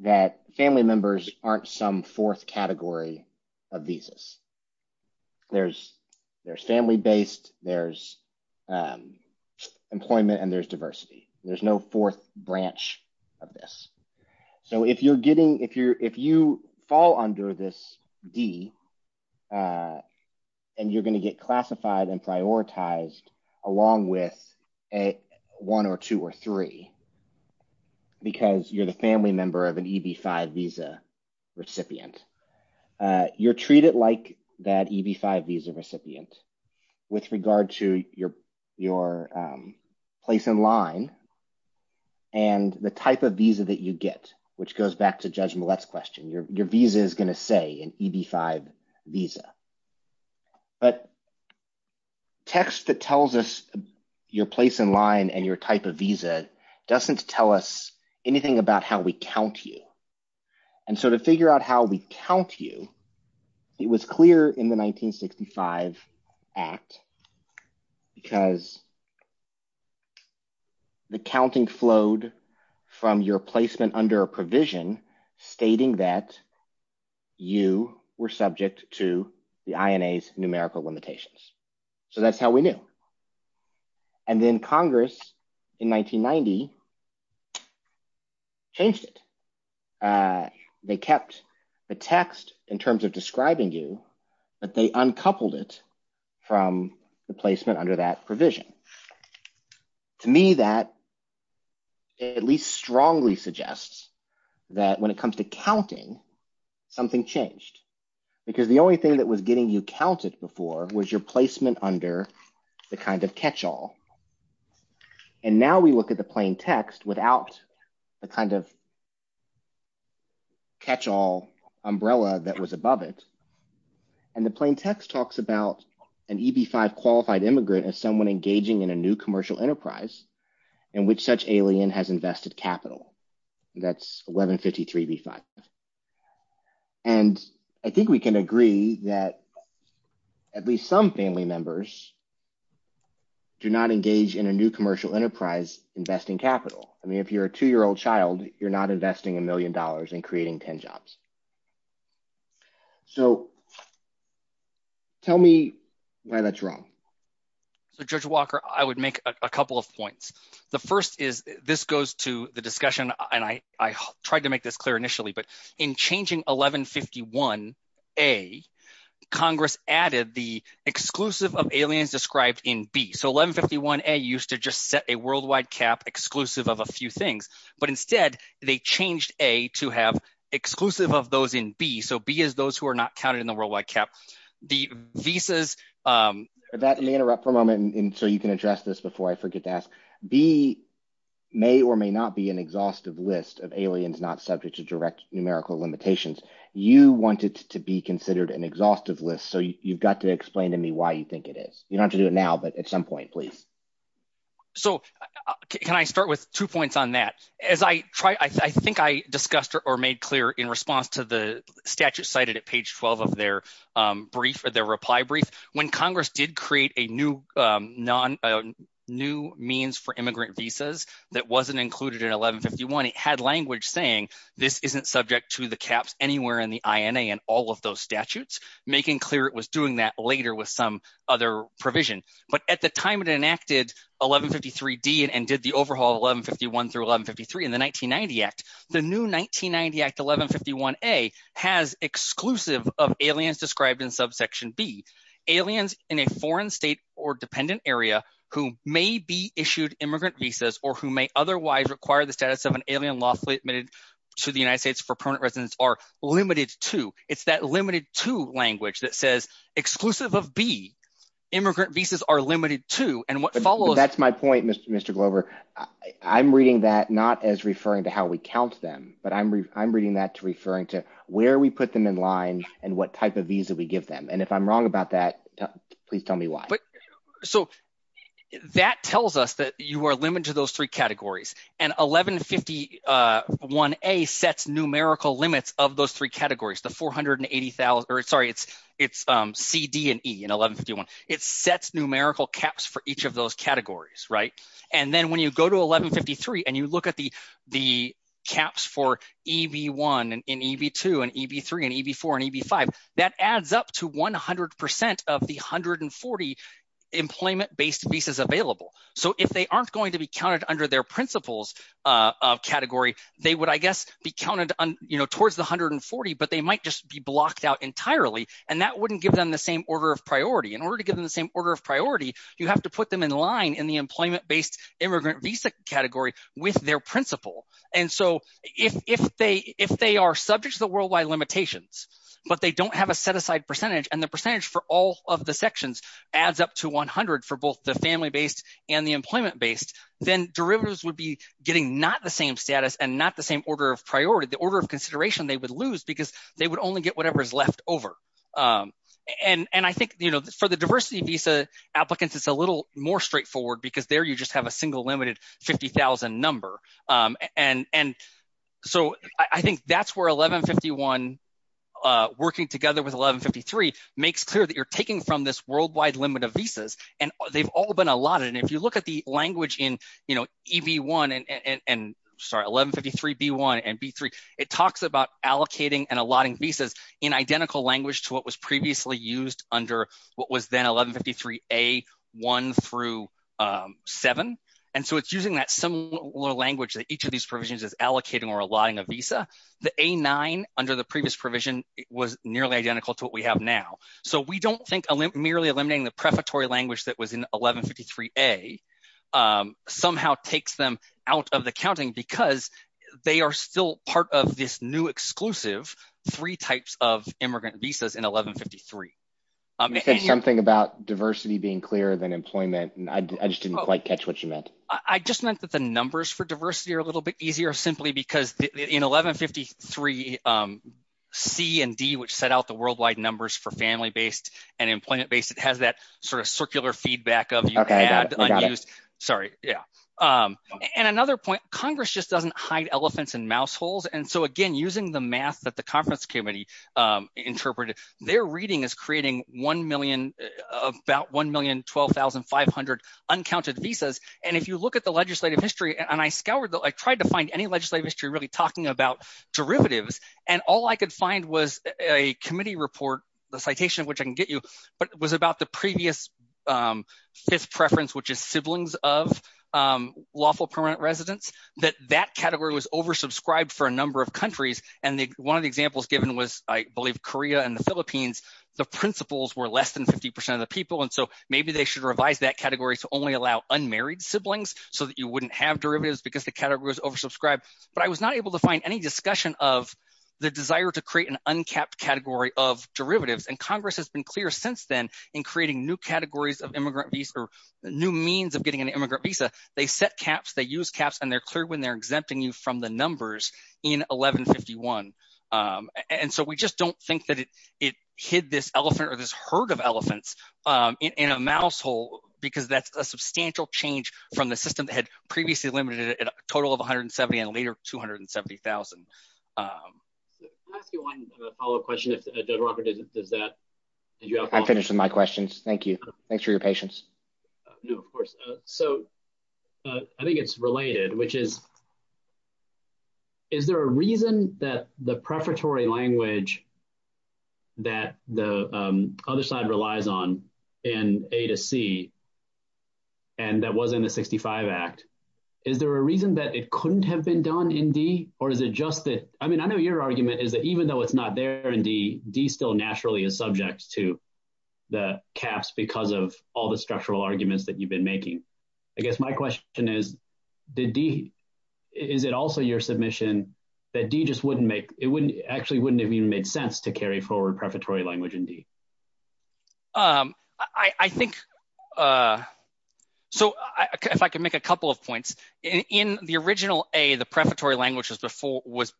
that family members aren't some fourth category of visas. There's, there's family based, there's employment and there's diversity. There's no branch of this. So if you're getting, if you're, if you fall under this D and you're going to get classified and prioritized along with a one or two or three, because you're the family member of an EB-5 visa recipient, you're treated like that EB-5 recipient with regard to your, your place in line and the type of visa that you get, which goes back to Judge Millett's question. Your, your visa is going to say an EB-5 visa, but text that tells us your place in line and your type of visa doesn't tell us anything about how we count you. And so to figure out how we count you, it was clear in the 1965 act because the counting flowed from your placement under a provision stating that you were subject to the INA's numerical limitations. So that's how we knew. And then Congress in 1990 changed it. They kept the text in terms of describing you, but they uncoupled it from the placement under that provision. To me, that at least strongly suggests that when it comes to counting, something changed because the only thing that was getting you counted before was your text without a kind of catch-all umbrella that was above it. And the plain text talks about an EB-5 qualified immigrant as someone engaging in a new commercial enterprise in which such alien has invested capital. That's 1153B5. And I think we can agree that at least some family members do not engage in a new commercial enterprise investing capital. I mean, if you're a two-year-old child, you're not investing a million dollars in creating 10 jobs. So tell me why that's wrong. So Judge Walker, I would make a couple of points. The first is this goes to the discussion, and I tried to make this clear initially, but in changing 1151A, Congress added the exclusive of aliens described in B. So 1151A used to just set a worldwide cap exclusive of a few things. But instead, they changed A to have exclusive of those in B. So B is those who are not counted in the worldwide cap. The visas- Let me interrupt for a moment so you can address this before I forget to ask. B may or may not be an exhaustive list of aliens not subject to direct numerical limitations. You want it to be considered an exhaustive list. So you've got to explain to me why you think it is. You don't have to do it now, but at some point, please. So can I start with two points on that? As I try, I think I discussed or made clear in response to the statute cited at page 12 of their brief or their reply brief, when Congress did create a new means for immigrant visas that wasn't included in 1151, it had language saying this isn't subject to the caps anywhere in the INA and all of those statutes, making clear it was doing that later with some other provision. But at the time it enacted 1153D and did the overhaul of 1151 through 1153 in the 1990 Act, the new 1990 Act 1151A has exclusive of aliens described in subsection B, aliens in a foreign state or dependent area who may be issued immigrant visas or who may otherwise require the status of an alien lawfully admitted to the United States for permanent residence are limited to. It's that limited to language that says exclusive of B, immigrant visas are limited to and what follows. That's my point, Mr. Glover. I'm reading that not as referring to how we count them, but I'm reading that to referring to where we put them in line and what type of visa we give them. And if I'm wrong about that, please tell me why. So that tells us that you are limited to those three categories and 1151A sets numerical limits of those three categories, the 480,000, or sorry, it's CD and E in 1151. It sets numerical caps for each of those categories, right? And then when you go to 1153 and you look at the caps for EB1 and EB2 and EB3 and EB4 and EB5, that adds up to 100% of the 140 employment-based visas available. So if they aren't going to be counted under their principles of category, they would, I guess, be counted towards the 140, but they might just be blocked out entirely and that wouldn't give them the same order of priority. In order to give them the same order of priority, you have to put them in line in the employment-based immigrant visa category with their principle. And so if they are subject to the worldwide limitations, but they don't have a set aside percentage and the percentage for all of the sections adds up to 100 for both the family-based and the employment-based, then derivatives would be getting not the same status and not the same order of priority, the order of consideration they would lose because they would only get whatever is left over. And I think for the diversity visa applicants, it's a little more straightforward because there you just have a single limited 50,000 number. And so I think that's where 1151, working together with 1153, makes clear that you're taking from this worldwide limit of visas and they've all been allotted. And if you look at the language in EB1 and, sorry, 1153B1 and B3, it talks about allocating and allotting visas in identical language to what was previously used under what was then 1153A1 through 7. And so it's using that similar language that each of these provisions is allocating or allotting a visa. The A9 under the previous provision was nearly identical to what we have now. So we don't think merely eliminating the prefatory language that was in 1153A somehow takes them out of the counting because they are still part of this new three types of immigrant visas in 1153. You said something about diversity being clearer than employment. I just didn't quite catch what you meant. I just meant that the numbers for diversity are a little bit easier simply because in 1153C and D, which set out the worldwide numbers for family-based and employment-based, it has that sort of circular feedback of you can add unused. Sorry. Yeah. And another point, Congress just doesn't hide elephants in mouse holes. And so again, using the math that the conference committee interpreted, their reading is creating about 1,012,500 uncounted visas. And if you look at the legislative history, and I tried to find any legislative history really talking about derivatives, and all I could find was a committee report, the citation, which I can get you, but it was about the previous preference, which is siblings of lawful permanent residents, that that category was oversubscribed for a number of countries. And one of the examples given was, I believe, Korea and the Philippines, the principals were less than 50% of the people. And so maybe they should revise that category to only allow unmarried siblings so that you wouldn't have derivatives because the category was oversubscribed. But I was not able to find any discussion of the desire to create an uncapped category of derivatives. And Congress has been clear since then in creating new categories of immigrant visa or new means of getting an immigrant visa, they're clear when they're exempting you from the numbers in 1151. And so we just don't think that it hid this elephant or this herd of elephants in a mouse hole, because that's a substantial change from the system that had previously limited it at a total of 170 and later 270,000. I'll ask you one follow-up question if Judge Walker does that. I'm finished with my questions, thank you. Thanks for your patience. No, of course. So I think it's related, which is, is there a reason that the prefatory language that the other side relies on in A to C and that was in the 65 Act, is there a reason that it couldn't have been done in D? Or is it just that, I mean, I know your argument is that even though it's not there in D, D still naturally is subject to the caps because of all the structural arguments that you've been making. I guess my question is, did D, is it also your submission that D just wouldn't make, it wouldn't, actually wouldn't have even made sense to carry forward prefatory language in D? I think, so if I could make a couple of points. In the original A, the prefatory language was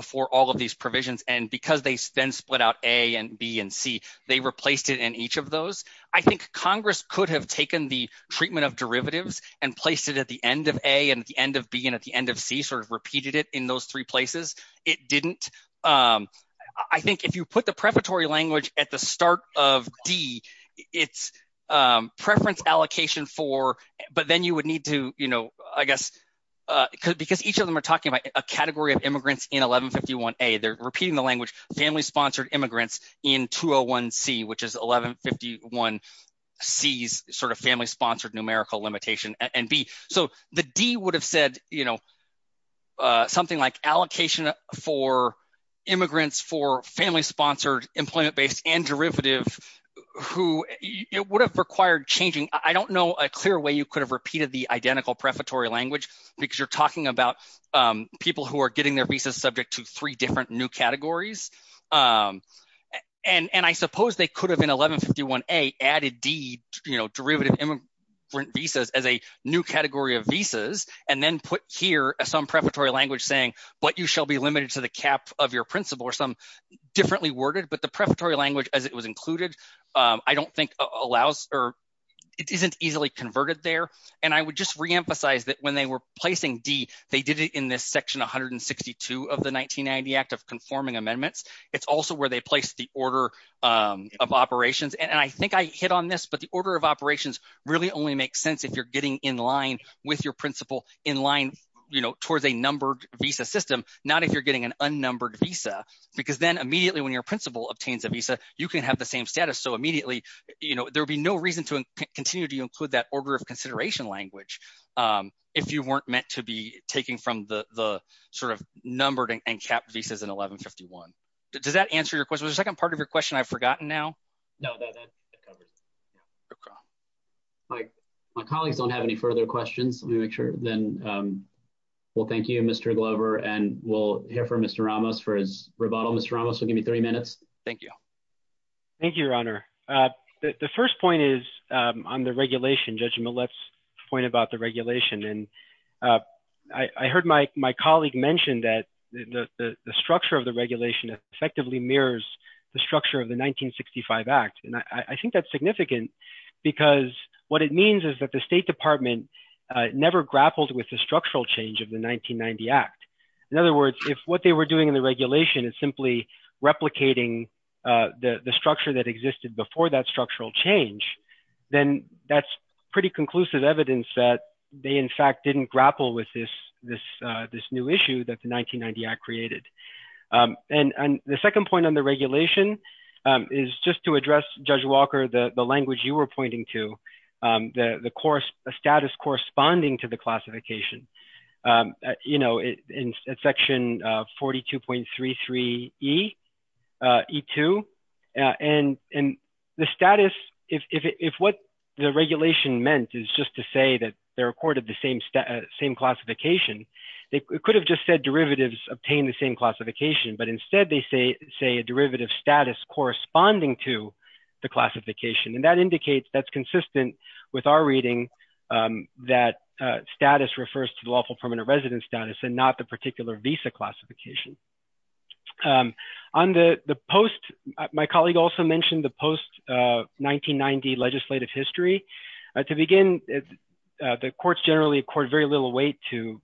before all of these provisions and because they then split out A and B and C, they replaced it in each of those. I think Congress could have taken the treatment of derivatives and placed it at the end of A and at the end of B and at the end of C, sort of repeated it in those three places. It didn't. I think if you put the prefatory language at the start of D, it's preference allocation for, but then you would need to, you know, I guess, because each of them are talking about a category of immigrants in 1151A. They're repeating the language family-sponsored immigrants in 201C, which is 1151C's sort of family-sponsored numerical limitation and B. So the D would have said, you know, something like allocation for immigrants for family-sponsored employment-based and derivative who, it would have required changing. I don't know a clear way you could have repeated the identical prefatory language because you're talking about people who are getting their visas subject to three different new categories and I suppose they could have in 1151A added D, you know, derivative immigrant visas as a new category of visas and then put here some prefatory language saying, but you shall be limited to the cap of your principal or some differently worded, but the prefatory language as it was included, I don't think allows or it isn't easily converted there and I would just re-emphasize that when they were placing D, they did it in this section 162 of the 1990 Act of Conforming Amendments. It's also where they place the order of operations and I think I hit on this, but the order of operations really only makes sense if you're getting in line with your principal in line, you know, towards a numbered visa system, not if you're getting an unnumbered visa because then immediately when your principal obtains a visa, you can have the same status. So immediately, you know, there'll be no reason to continue to include that order of consideration language if you weren't meant to be taking from the sort of numbered and capped visas in 1151. Does that answer your question? Was the second part of your question I've forgotten now? No, that covers it. Okay. My colleagues don't have any further questions. Let me make sure then. Well, thank you, Mr. Glover and we'll hear from Mr. Ramos for his rebuttal. Mr. Ramos, we'll give you three minutes. Thank you. Thank you, Your Honor. The first point is on the regulation, Judge Millett's point about the regulation and I heard my colleague mention that the structure of the regulation effectively mirrors the structure of the 1965 Act and I think that's significant because what it means is that the State Department never grappled with the structural change of the 1990 Act. In other words, if what they were doing in the regulation is simply replicating the structure that existed before that structural change, then that's pretty conclusive evidence that they, in fact, didn't grapple with this new issue that the 1990 Act created. And the second point on the regulation is just to address, Judge Walker, the language you were pointing to, the status corresponding to the classification. You know, in section 42.33E, E2, and the status, if what the regulation meant is just to say that they recorded the same classification, they could have just said derivatives obtain the same classification, but instead they say a derivative status corresponding to the classification and that's consistent with our reading that status refers to the lawful permanent resident status and not the particular visa classification. My colleague also mentioned the post-1990 legislative history. To begin, the courts generally accord very little weight to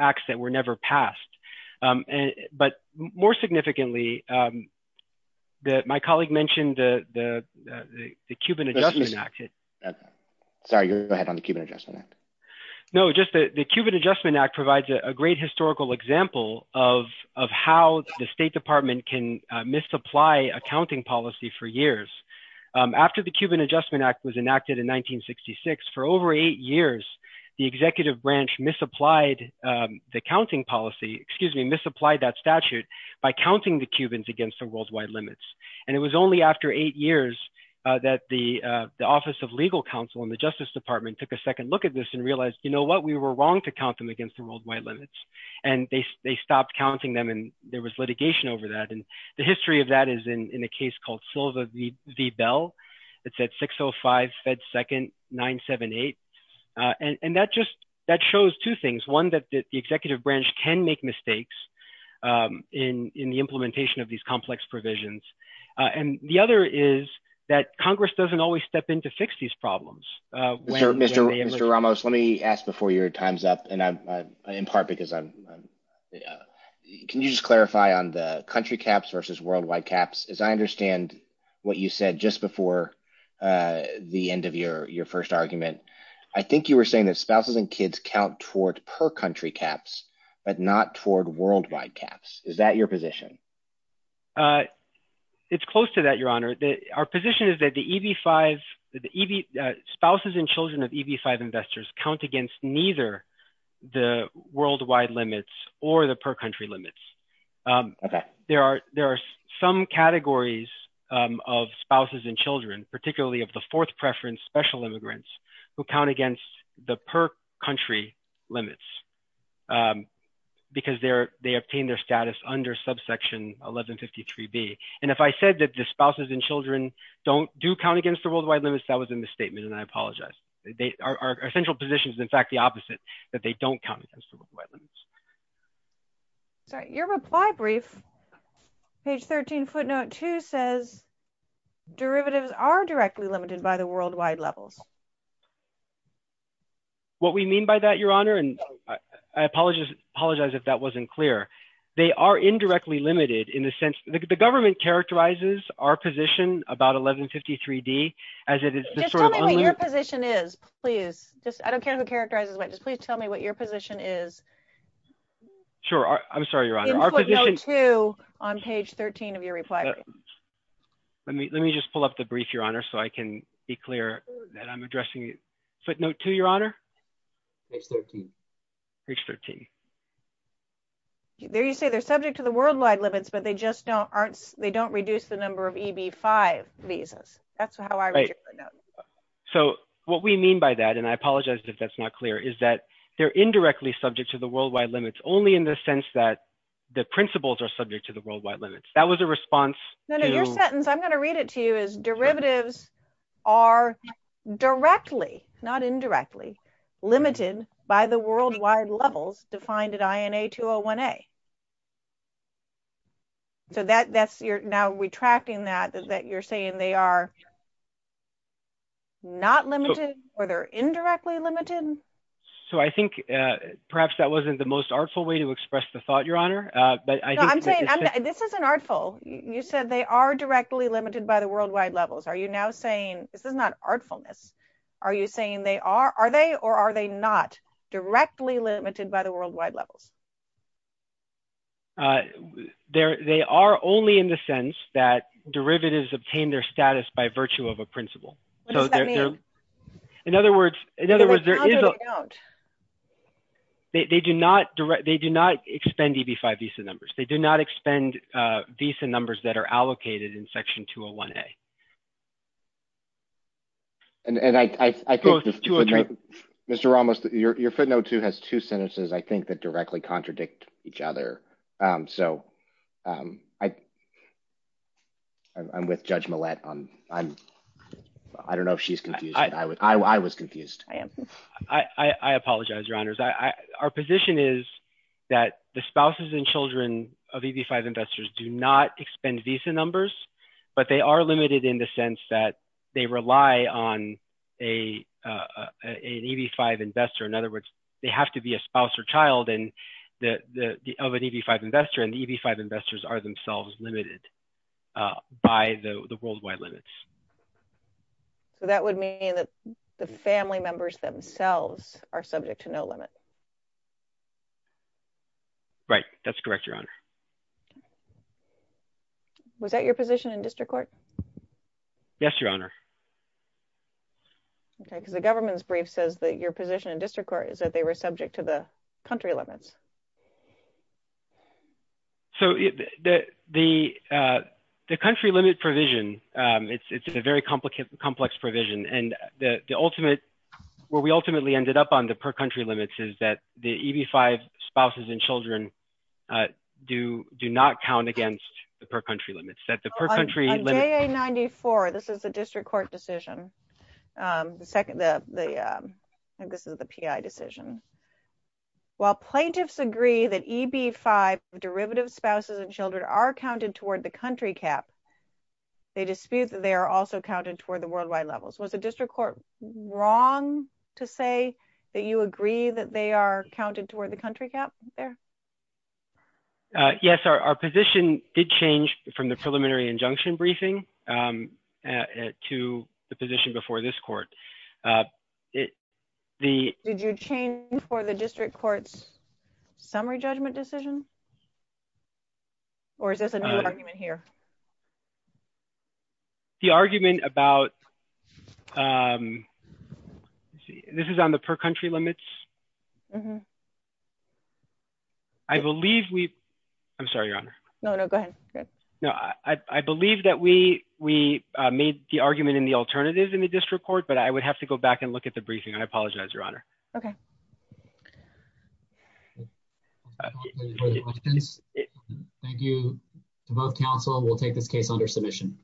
acts that were never passed. But more significantly, my colleague mentioned the Cuban Adjustment Act. Sorry, go ahead on the Cuban Adjustment Act. No, just the Cuban Adjustment Act provides a great historical example of how the State Department can misapply accounting policy for years. After the Cuban Adjustment Act was enacted in 1966, for over eight years, the executive branch misapplied the accounting policy, excuse me, misapplied that statute by counting the Cubans against the worldwide limits. And it was only after eight years that the Office of Legal Counsel in the Justice Department took a second look at this and realized, you know what, we were wrong to count them against the worldwide limits. And they stopped counting them and there was litigation over that. And the history of that is in a case called Silva v. Bell. It's at 605 Fed 2nd 978. And that just, that shows two things. One, that the executive branch can make mistakes in the implementation of these complex provisions. And the other is that Congress doesn't always step in to fix these problems. Mr. Ramos, let me ask before your time's up, and in part because I'm, can you just clarify on the country caps versus worldwide caps? As I understand what you said just before the end of your first argument, I think you were saying that spouses and kids count toward per country caps, but not toward worldwide caps. Is that your position? It's close to that, Your Honor. Our position is that the EB-5, spouses and children of EB-5 investors count against neither the worldwide limits or the per country limits. There are some categories of spouses and children, particularly of the fourth preference special immigrants who count against the per country limits because they obtain their status under subsection 1153B. And if I said that the spouses and children don't do count against the worldwide limits, that was a misstatement, and I apologize. Our central position is, in fact, the opposite, that they don't count against the worldwide limits. Sorry, your reply brief, page 13, footnote 2, says derivatives are directly limited by the worldwide levels. What we mean by that, Your Honor, and I apologize if that wasn't clear, they are indirectly limited in the sense, the government characterizes our position about 1153D as it is. Just tell me what your position is, please. Just, I don't care who characterizes it, just please tell me what your position is. Sure, I'm sorry, Your Honor. Our position. In footnote 2 on page 13 of your reply brief. Let me, let me just pull up the brief, Your Honor, so I can be clear that I'm addressing footnote 2, Your Honor. Page 13. Page 13. There you say they're subject to the worldwide limits, but they just don't aren't, they don't reduce the number of EB-5 visas. That's how I read your footnote. Right. So, what we mean by that, and I apologize if that's not clear, is that they're indirectly subject to the worldwide limits, only in the sense that the principles are subject to the worldwide limits. That was a response to- No, no, your sentence, I'm going to read it to you, is derivatives are directly, not indirectly, limited by the worldwide levels defined at INA 201A. So, that, that's, you're now retracting that, that you're saying they are not limited, or they're indirectly limited? So, I think perhaps that wasn't the most artful way to express the thought, Your Honor, but I think- No, I'm saying, this isn't artful. You said they are directly limited by the worldwide levels. Are you now saying, this is not artfulness, are you saying they are, are they, or are they not directly limited by the worldwide levels? They're, they are only in the sense that derivatives obtain their status by virtue of a principle. What does that mean? In other words, in other words, there is a- How do they count? They, they do not direct, they do not expend EB-5 visa numbers. They do not expend visa numbers that are allocated in Section 201A. And, and I, I, I think- Mr. Ramos, your, your footnote too has two sentences, I think, that directly contradict each other. So, I, I'm with Judge Millett on, I'm, I don't know if she's confused, but I was, I was confused. I am. I, I, I apologize, Your Honors. I, I, our position is that the spouses and children of EB-5 investors do not expend visa numbers, but they are limited in the sense that they rely on a, an EB-5 investor. In other words, they have to be a spouse or child and the, the, the, of an EB-5 investor, and the EB-5 investors are themselves limited by the, the worldwide limits. So, that would mean that the family members themselves are subject to no limit? Right. That's correct, Your Honor. Was that your position in district court? Yes, Your Honor. Okay, because the government's brief says that your position in district court is that they were subject to the country limits. So, the, the, the, the country limit provision, it's, it's a very complicated, complex provision, and the, the ultimate, where we ultimately ended up on the per country limits is that the EB-5 spouses and children do, do not count against the per country limits. That the per and this is the PI decision. While plaintiffs agree that EB-5 derivative spouses and children are counted toward the country cap, they dispute that they are also counted toward the worldwide levels. Was the district court wrong to say that you agree that they are counted toward the country cap there? Yes, our, our position did change from the preliminary injunction briefing at, to the position before this court. The. Did you change for the district court's summary judgment decision? Or is this a new argument here? The argument about, let's see, this is on the per country limits. I believe we, I'm sorry, Your Honor. No, no, go ahead. No, I, I believe that we, we made the argument in the alternative in the district court, but I would have to go back and look at the briefing. I apologize, Your Honor. Okay. Thank you to both counsel. We'll take this case under submission.